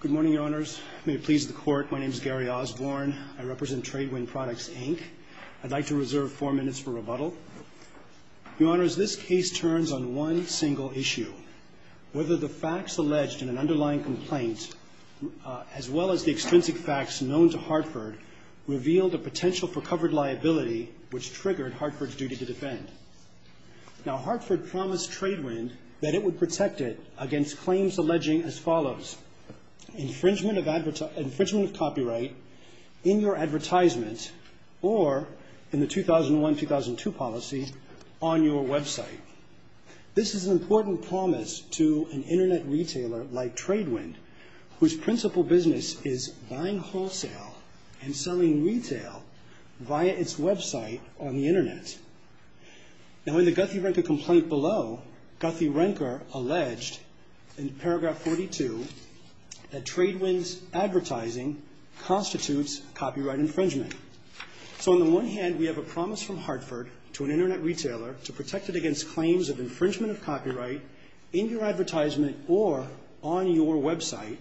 Good morning, Your Honors. May it please the Court, my name is Gary Osborne. I represent Tradewind Products, Inc. I'd like to reserve four minutes for rebuttal. Your Honors, this case turns on one single issue. Whether the facts alleged in an underlying complaint, as well as the extrinsic facts known to Hartford, revealed a potential for covered liability, which triggered Hartford's duty to defend. Now, Hartford promised Tradewind that it would protect it against claims alleging as follows. Infringement of copyright in your advertisement, or in the 2001-2002 policy, on your website. This is an important promise to an Internet retailer like Tradewind, whose principal business is buying wholesale and selling retail via its website on the Internet. Now, in the Guthrie-Renker complaint below, Guthrie-Renker alleged, in paragraph 42, that Tradewind's advertising constitutes copyright infringement. So, on the one hand, we have a promise from Hartford to an Internet retailer to protect it against claims of infringement of copyright in your advertisement, or on your website.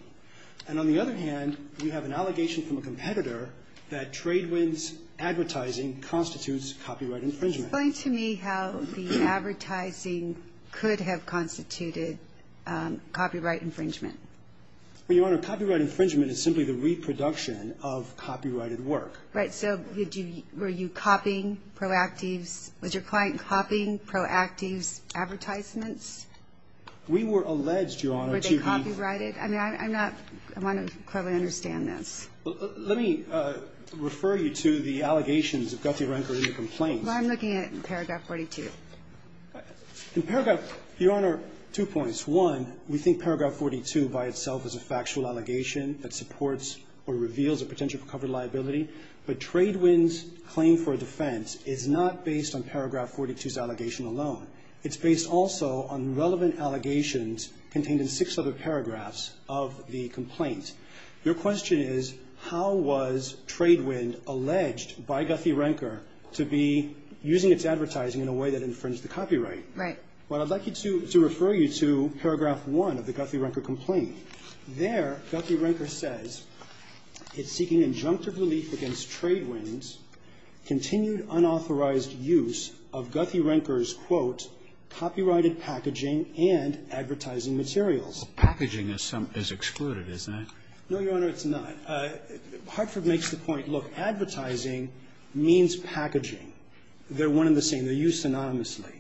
And on the other hand, you have an allegation from a competitor that Tradewind's advertising constitutes copyright infringement. Explain to me how the advertising could have constituted copyright infringement. Well, Your Honor, copyright infringement is simply the reproduction of copyrighted work. Right. So did you – were you copying Proactiv's – was your client copying Proactiv's advertisements? We were alleged, Your Honor, to be – Were they copyrighted? I mean, I'm not – I want to clearly understand this. Let me refer you to the allegations of Guthrie-Renker in the complaint. Well, I'm looking at it in paragraph 42. In paragraph – Your Honor, two points. One, we think paragraph 42 by itself is a factual allegation that supports or reveals a potential covered liability. But Tradewind's claim for defense is not based on paragraph 42's allegation alone. It's based also on relevant allegations contained in six other paragraphs of the complaint. Your question is, how was Tradewind alleged by Guthrie-Renker to be using its advertising in a way that infringed the copyright? Right. Well, I'd like you to – to refer you to paragraph 1 of the Guthrie-Renker complaint. There, Guthrie-Renker says it's seeking injunctive relief against Tradewind's continued unauthorized use of Guthrie-Renker's, quote, copyrighted packaging and advertising materials. Well, packaging is some – is excluded, isn't it? No, Your Honor, it's not. Hartford makes the point, look, advertising means packaging. They're one and the same. They're used synonymously.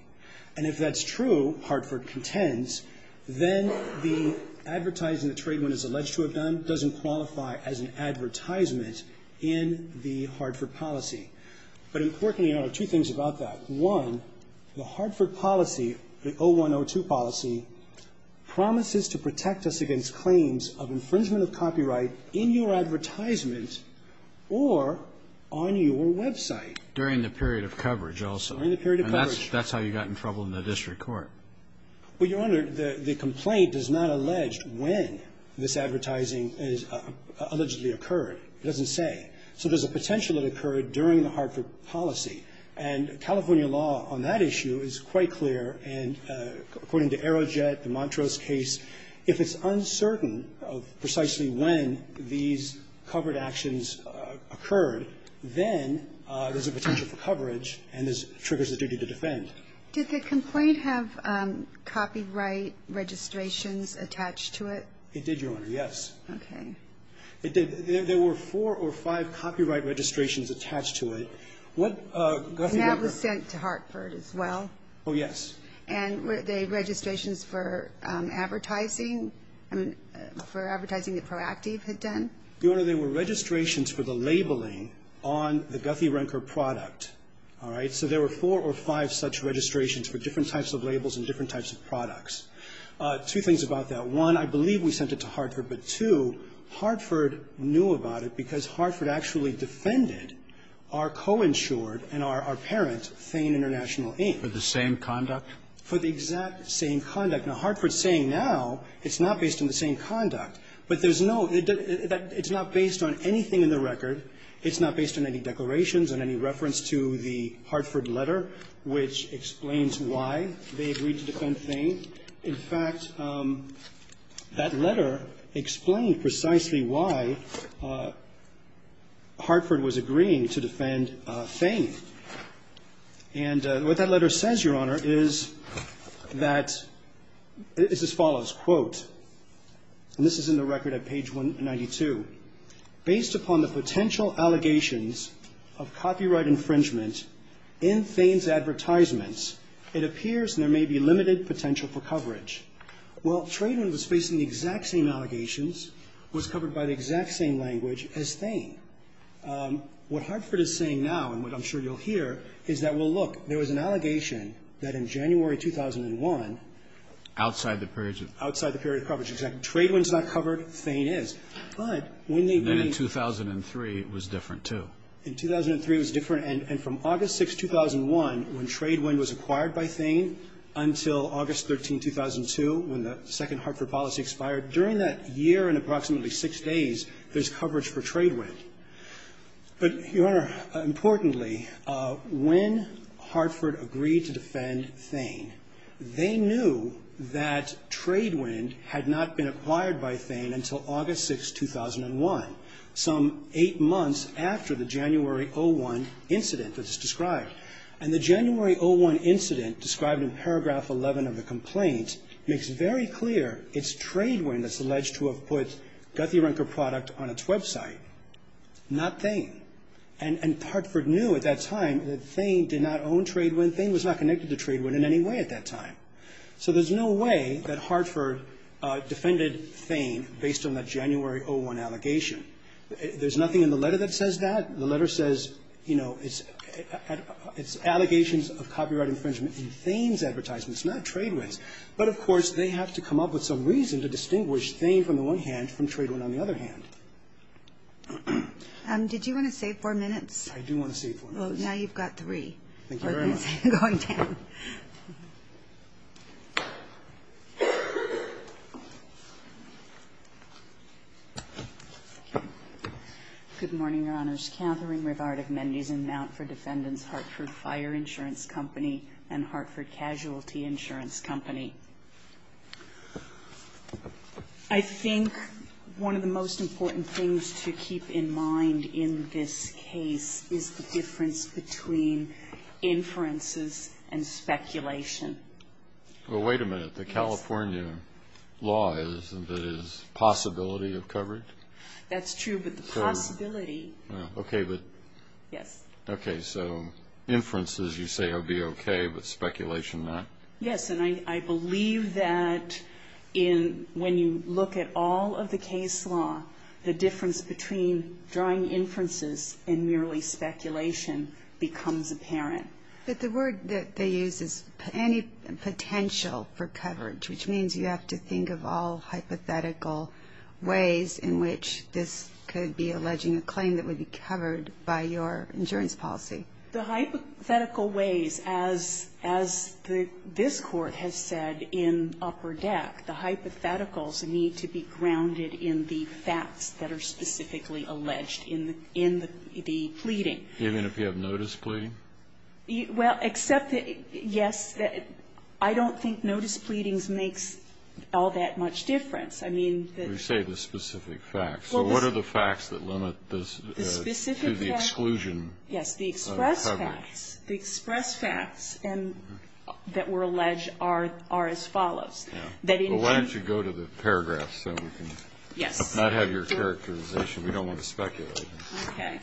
And if that's true, Hartford contends, then the advertising that Tradewind is alleged to have done doesn't qualify as an advertisement in the Hartford policy. But importantly, Your Honor, two things about that. One, the Hartford policy, the 0102 policy, promises to protect us against claims of infringement of copyright in your advertisement or on your website. During the period of coverage. And that's how you got in trouble in the district court. Well, Your Honor, the complaint does not allege when this advertising is allegedly occurred. It doesn't say. So there's a potential it occurred during the Hartford policy. And California law on that issue is quite clear. And according to Aerojet, the Montrose case, if it's uncertain of precisely when these covered actions occurred, then there's a potential for coverage and this triggers the duty to defend. Did the complaint have copyright registrations attached to it? It did, Your Honor. Yes. Okay. It did. There were four or five copyright registrations attached to it. And that was sent to Hartford as well? Oh, yes. And were they registrations for advertising? I mean, for advertising that Proactiv had done? Your Honor, they were registrations for the labeling on the Guthrie-Renker product. All right? So there were four or five such registrations for different types of labels and different types of products. Two things about that. One, I believe we sent it to Hartford. But, two, Hartford knew about it because Hartford actually defended our co-insured and our parent, Thane International, Inc. For the same conduct? For the exact same conduct. Now, Hartford's saying now it's not based on the same conduct. But there's no ñ it's not based on anything in the record. It's not based on any declarations and any reference to the Hartford letter, which explains why they agreed to defend Thane. In fact, that letter explained precisely why Hartford was agreeing to defend Thane. And what that letter says, Your Honor, is that ñ is as follows, quote, and this is in the record at page 192, ìBased upon the potential allegations of copyright infringement in Thane's advertisements, it appears there may be limited potential for coverage.î Well, Tradewinds was facing the exact same allegations, was covered by the exact same language as Thane. What Hartford is saying now, and what I'm sure you'll hear, is that, well, look, there was an allegation that in January 2001 ñ Outside the period of ñ Outside the period of coverage. Exactly. Tradewinds is not covered. Thane is. But when they agreed ñ And then in 2003, it was different, too. In 2003, it was different. And from August 6, 2001, when Tradewind was acquired by Thane, until August 13, 2002, when the second Hartford policy expired, during that year and approximately six days, there's coverage for Tradewind. But, Your Honor, importantly, when Hartford agreed to defend Thane, they knew that Tradewind had not been acquired by Thane until August 6, 2001, some eight months after the January 01 incident that's described. And the January 01 incident described in paragraph 11 of the complaint makes very clear it's Tradewind that's alleged to have put Guthrie-Renker product on its website, not Thane. And Hartford knew at that time that Thane did not own Tradewind. Thane was not connected to Tradewind in any way at that time. So there's no way that Hartford defended Thane based on that January 01 allegation. There's nothing in the letter that says that. The letter says, you know, it's allegations of copyright infringement in Thane's advertisements, not Tradewind's. But, of course, they have to come up with some reason to distinguish Thane from the one hand, from Tradewind on the other hand. Did you want to save four minutes? I do want to save four minutes. Well, now you've got three. Thank you very much. I don't see it going down. Good morning, Your Honors. Katherine Rivard of Mendes and Mountford Defendants, Hartford Fire Insurance Company, and Hartford Casualty Insurance Company. I think one of the most important things to keep in mind in this case is the difference between inferences and speculation. Well, wait a minute. The California law is that it is possibility of coverage? That's true, but the possibility. Okay, but. Yes. Okay, so inferences you say would be okay, but speculation not? Yes, and I believe that when you look at all of the case law, the difference between drawing inferences and merely speculation becomes apparent. But the word that they use is any potential for coverage, which means you have to think of all hypothetical ways in which this could be alleging a claim that would be covered by your insurance policy. The hypothetical ways, as this Court has said in upper deck, the hypotheticals need to be grounded in the facts that are specifically alleged in the pleading. Even if you have notice pleading? Well, except that, yes, I don't think notice pleadings makes all that much difference. I mean. You say the specific facts. So what are the facts that limit this to the exclusion of coverage? Yes, the express facts. The express facts that were alleged are as follows. Well, why don't you go to the paragraphs so we can not have your characterization. We don't want to speculate. Okay.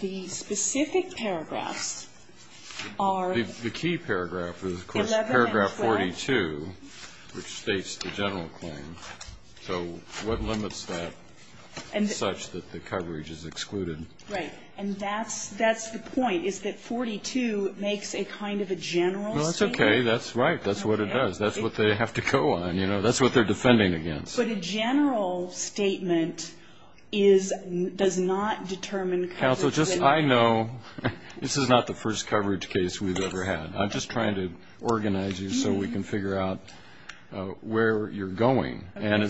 The specific paragraphs are. The key paragraph is, of course, paragraph 42, which states the general claim. So what limits that such that the coverage is excluded? Right. And that's the point, is that 42 makes a kind of a general statement. Well, that's okay. That's right. That's what it does. That's what they have to go on. That's what they're defending against. But a general statement does not determine coverage. Counsel, just so I know, this is not the first coverage case we've ever had. I'm just trying to organize you so we can figure out where you're going. And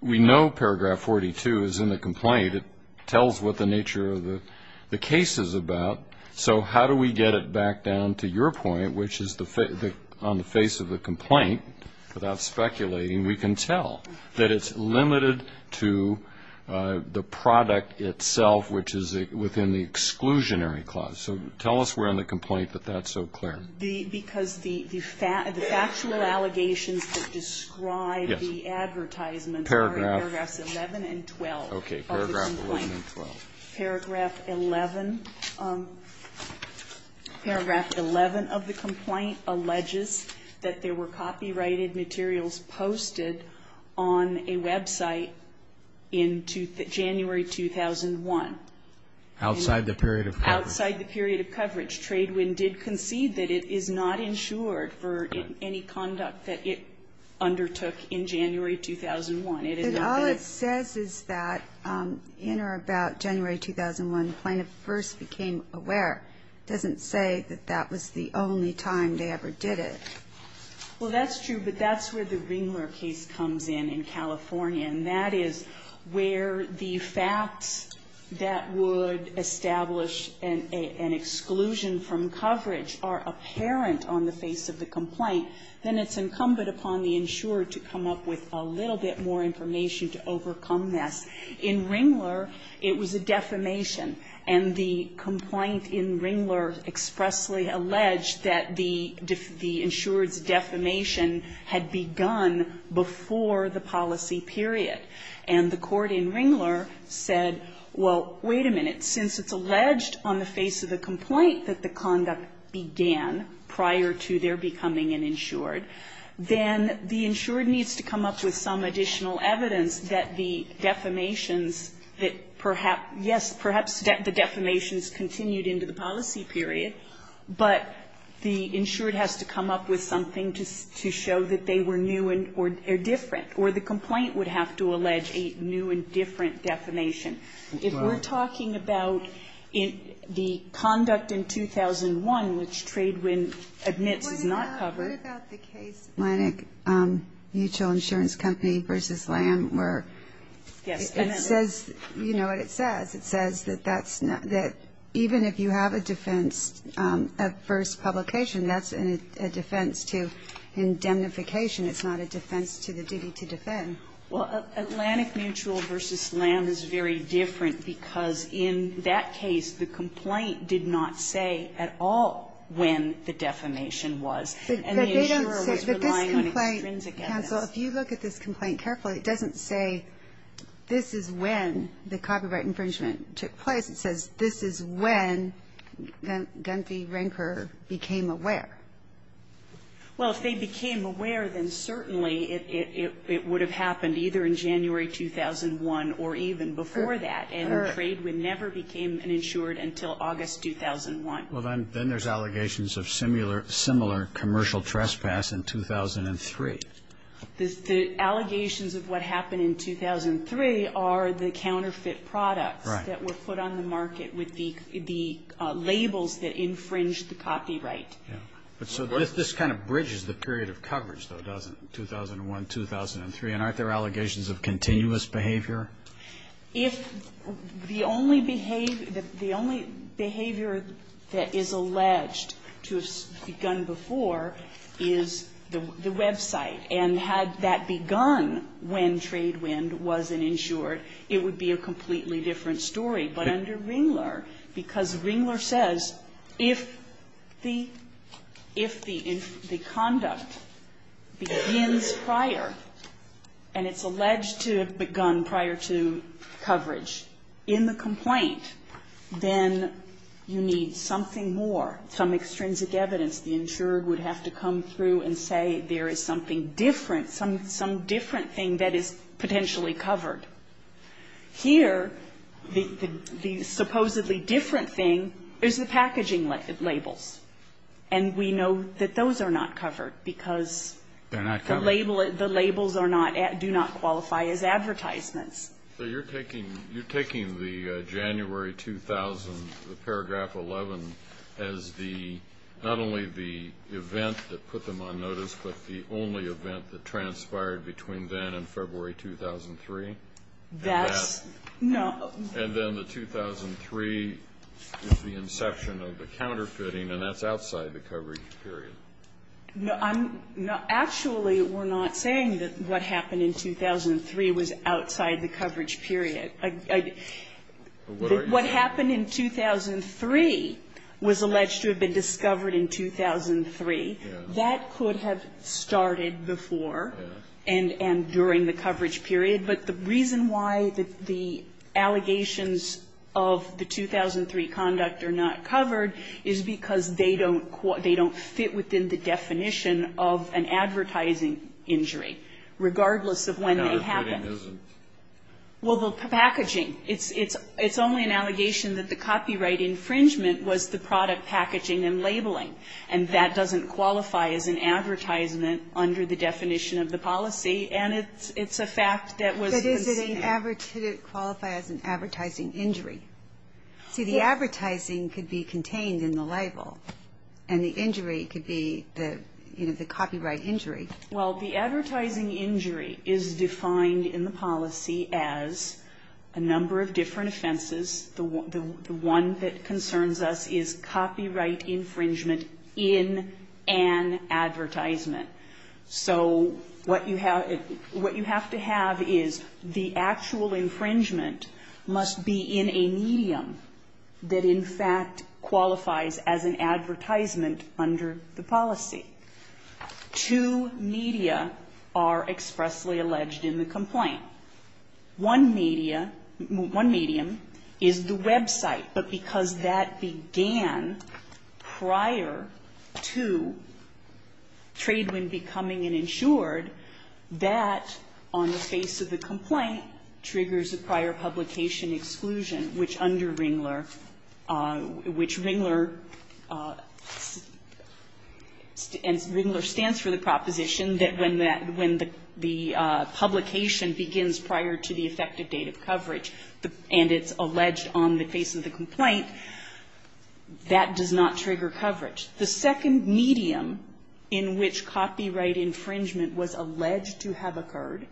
we know paragraph 42 is in the complaint. It tells what the nature of the case is about. So how do we get it back down to your point, which is on the face of the complaint, without speculating, we can tell that it's limited to the product itself, which is within the exclusionary clause. So tell us where in the complaint that that's so clear. Because the factual allegations that describe the advertisements are in paragraphs 11 and 12. Okay. Paragraph 11 and 12. Paragraph 11. Paragraph 11 of the complaint alleges that there were copyrighted materials posted on a website in January 2001. Outside the period of coverage. Outside the period of coverage. Tradewind did concede that it is not insured for any conduct that it undertook in January 2001. And all it says is that in or about January 2001, the plaintiff first became aware. It doesn't say that that was the only time they ever did it. Well, that's true. But that's where the Ringler case comes in, in California. And that is where the facts that would establish an exclusion from coverage are apparent on the face of the complaint, then it's incumbent upon the insurer to come up with a little bit more information to overcome this. In Ringler, it was a defamation. And the complaint in Ringler expressly alleged that the insurer's defamation had begun before the policy period. And the court in Ringler said, well, wait a minute. Since it's alleged on the face of the complaint that the conduct began prior to their defamation, the insured needs to come up with some additional evidence that the defamations that perhaps, yes, perhaps the defamations continued into the policy period, but the insured has to come up with something to show that they were new or different or the complaint would have to allege a new and different defamation. If we're talking about the conduct in 2001, which Tradewind admits is not covered. What about the case Atlantic Mutual Insurance Company v. Lamb where it says, you know what it says, it says that even if you have a defense at first publication, that's a defense to indemnification. It's not a defense to the duty to defend. Well, Atlantic Mutual v. Lamb is very different because in that case the complaint did not say at all when the defamation was. And the insurer was relying on extrinsic evidence. But this complaint, counsel, if you look at this complaint carefully, it doesn't say this is when the copyright infringement took place. It says this is when Gunther Rinker became aware. Well, if they became aware, then certainly it would have happened either in January 2001 or even before that. And Tradewind never became an insured until August 2001. Well, then there's allegations of similar commercial trespass in 2003. The allegations of what happened in 2003 are the counterfeit products that were put on the market with the labels that infringed the copyright. So this kind of bridges the period of coverage, though, doesn't it, 2001, 2003? And aren't there allegations of continuous behavior? If the only behavior that is alleged to have begun before is the website and had that begun when Tradewind was an insured, it would be a completely different story. But under Ringler, because Ringler says if the conduct begins prior and it's alleged to have begun prior to coverage in the complaint, then you need something more, some extrinsic evidence. The insurer would have to come through and say there is something different, some different thing that is potentially covered. Here, the supposedly different thing is the packaging labels. And we know that those are not covered because the label at the labels are not, do not qualify as advertisements. So you're taking, you're taking the January 2000, the paragraph 11 as the, not only the event that put them on notice, but the only event that transpired between then and February 2003? That's, no. And then the 2003 is the inception of the counterfeiting, and that's outside the coverage period. No. Actually, we're not saying that what happened in 2003 was outside the coverage period. What happened in 2003 was alleged to have been discovered in 2003. That could have started before and during the coverage period. But the reason why the allegations of the 2003 conduct are not covered is because they don't fit within the definition of an advertising injury, regardless of when they happened. Counterfeiting isn't. Well, the packaging. It's only an allegation that the copyright infringement was the product packaging and labeling. And that doesn't qualify as an advertisement under the definition of the policy, and it's a fact that was conceived. But does it qualify as an advertising injury? Yes. But the advertising could be contained in the label, and the injury could be the copyright injury. Well, the advertising injury is defined in the policy as a number of different offenses. The one that concerns us is copyright infringement in an advertisement. So what you have to have is the actual infringement must be in a medium that, in fact, qualifies as an advertisement under the policy. Two media are expressly alleged in the complaint. One media, one medium is the website. But because that began prior to Tradewind becoming an insured, that on the face of the complaint triggers a prior publication exclusion, which under Ringler, which Ringler stands for the proposition that when the publication begins prior to the effective date of coverage, and it's alleged on the face of the complaint, that does not trigger coverage. The second medium in which copyright infringement was alleged to have occurred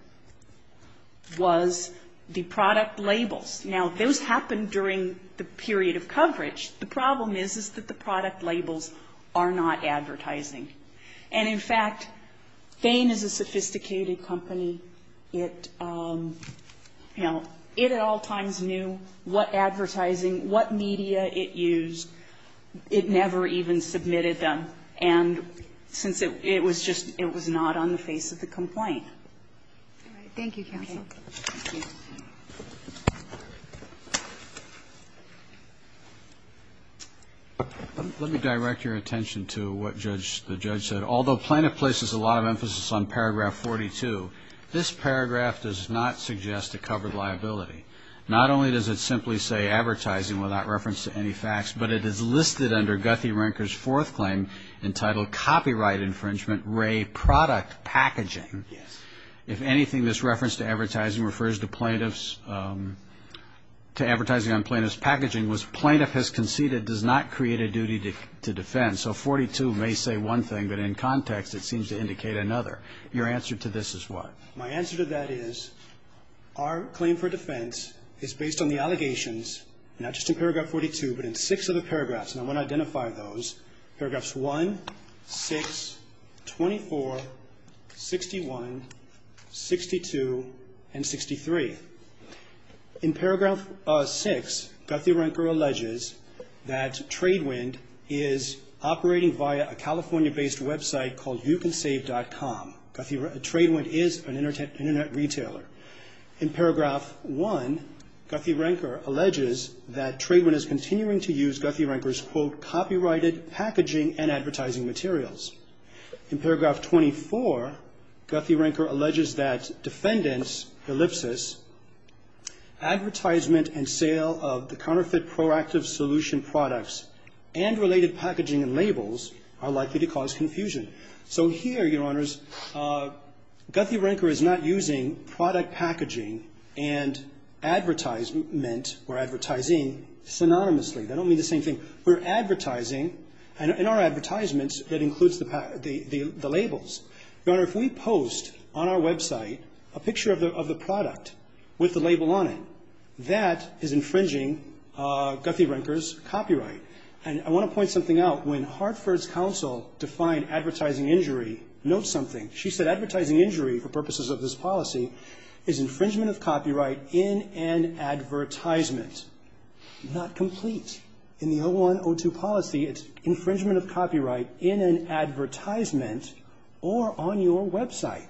was the product labels. Now, those happened during the period of coverage. The problem is, is that the product labels are not advertising. And, in fact, Vane is a sophisticated company. It, you know, it at all times knew what advertising, what media it used. It never even submitted them. And since it was just, it was not on the face of the complaint. All right. Thank you, counsel. Thank you. Let me direct your attention to what the judge said. Although plaintiff places a lot of emphasis on paragraph 42, this paragraph does not suggest a covered liability. Not only does it simply say advertising without reference to any facts, but it is listed under Guthe-Renker's fourth claim entitled Copyright Infringement, Ray Product Packaging. If anything, this reference to advertising refers to plaintiff's, to advertising on plaintiff's packaging was plaintiff has conceded, does not create a duty to defend. So 42 may say one thing, but in context it seems to indicate another. Your answer to this is what? My answer to that is our claim for defense is based on the allegations, not just in paragraph 42, but in six other paragraphs. And I want to identify those. Paragraphs 1, 6, 24, 61, 62, and 63. In paragraph 6, Guthe-Renker alleges that Tradewind is operating via a California-based website called youcansave.com. Tradewind is an internet retailer. In paragraph 1, Guthe-Renker alleges that Tradewind is continuing to use Guthe-Renker's quote, copyrighted packaging and advertising materials. In paragraph 24, Guthe-Renker alleges that Defendant's ellipsis, advertisement and sale of the counterfeit Proactive Solution products and related packaging and labels are likely to cause confusion. So here, Your Honors, Guthe-Renker is not using product packaging and advertisement or advertising synonymously. They don't mean the same thing. We're advertising, in our advertisements, that includes the labels. Your Honor, if we post on our website a picture of the product with the label on it, that is infringing Guthe-Renker's copyright. And I want to point something out. When Hartford's counsel defined advertising injury, note something. She said advertising injury, for purposes of this policy, is infringement of copyright in an advertisement. Not complete. In the 01-02 policy, it's infringement of copyright in an advertisement or on your website.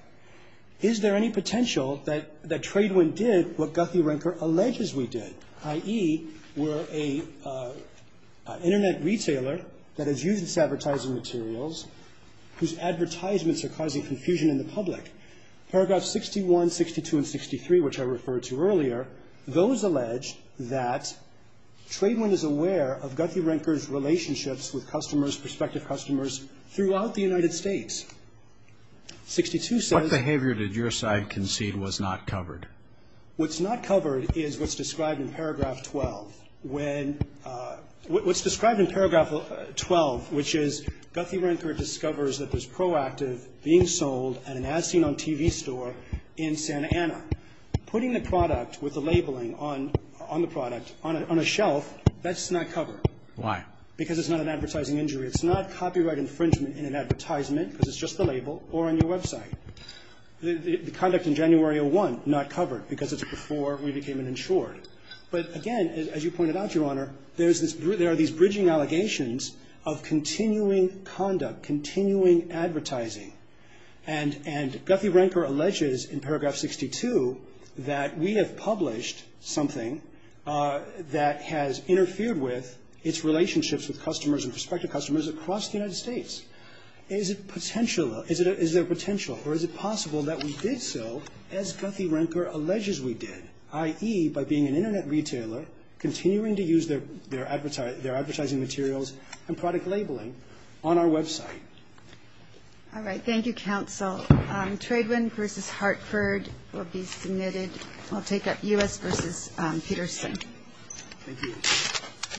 Is there any potential that Tradewind did what Guthe-Renker alleges we did, i.e., were an Internet retailer that has used this advertising materials whose advertisements are causing confusion in the public? Paragraph 61, 62, and 63, which I referred to earlier, those allege that Tradewind is aware of Guthe-Renker's relationships with customers, prospective customers, throughout the United States. 62 says — What behavior did your side concede was not covered? What's not covered is what's described in paragraph 12. What's described in paragraph 12, which is Guthe-Renker discovers that there's a product being sold at an as-seen-on-TV store in Santa Ana. Putting the product with the labeling on the product on a shelf, that's not covered. Why? Because it's not an advertising injury. It's not copyright infringement in an advertisement, because it's just the label, or on your website. The conduct in January 01, not covered, because it's before we became an insured. But again, as you pointed out, Your Honor, there's this — there are these bridging allegations of continuing conduct, continuing advertising. And Guthe-Renker alleges in paragraph 62 that we have published something that has interfered with its relationships with customers and prospective customers across the United States. Is it potential — is there potential, or is it possible that we did so, as Guthe-Renker alleges we did, i.e., by being an Internet retailer, continuing to use their advertising materials and product labeling on our website? All right. Thank you, counsel. Tradewind v. Hartford will be submitted. I'll take up U.S. v. Peterson. Thank you.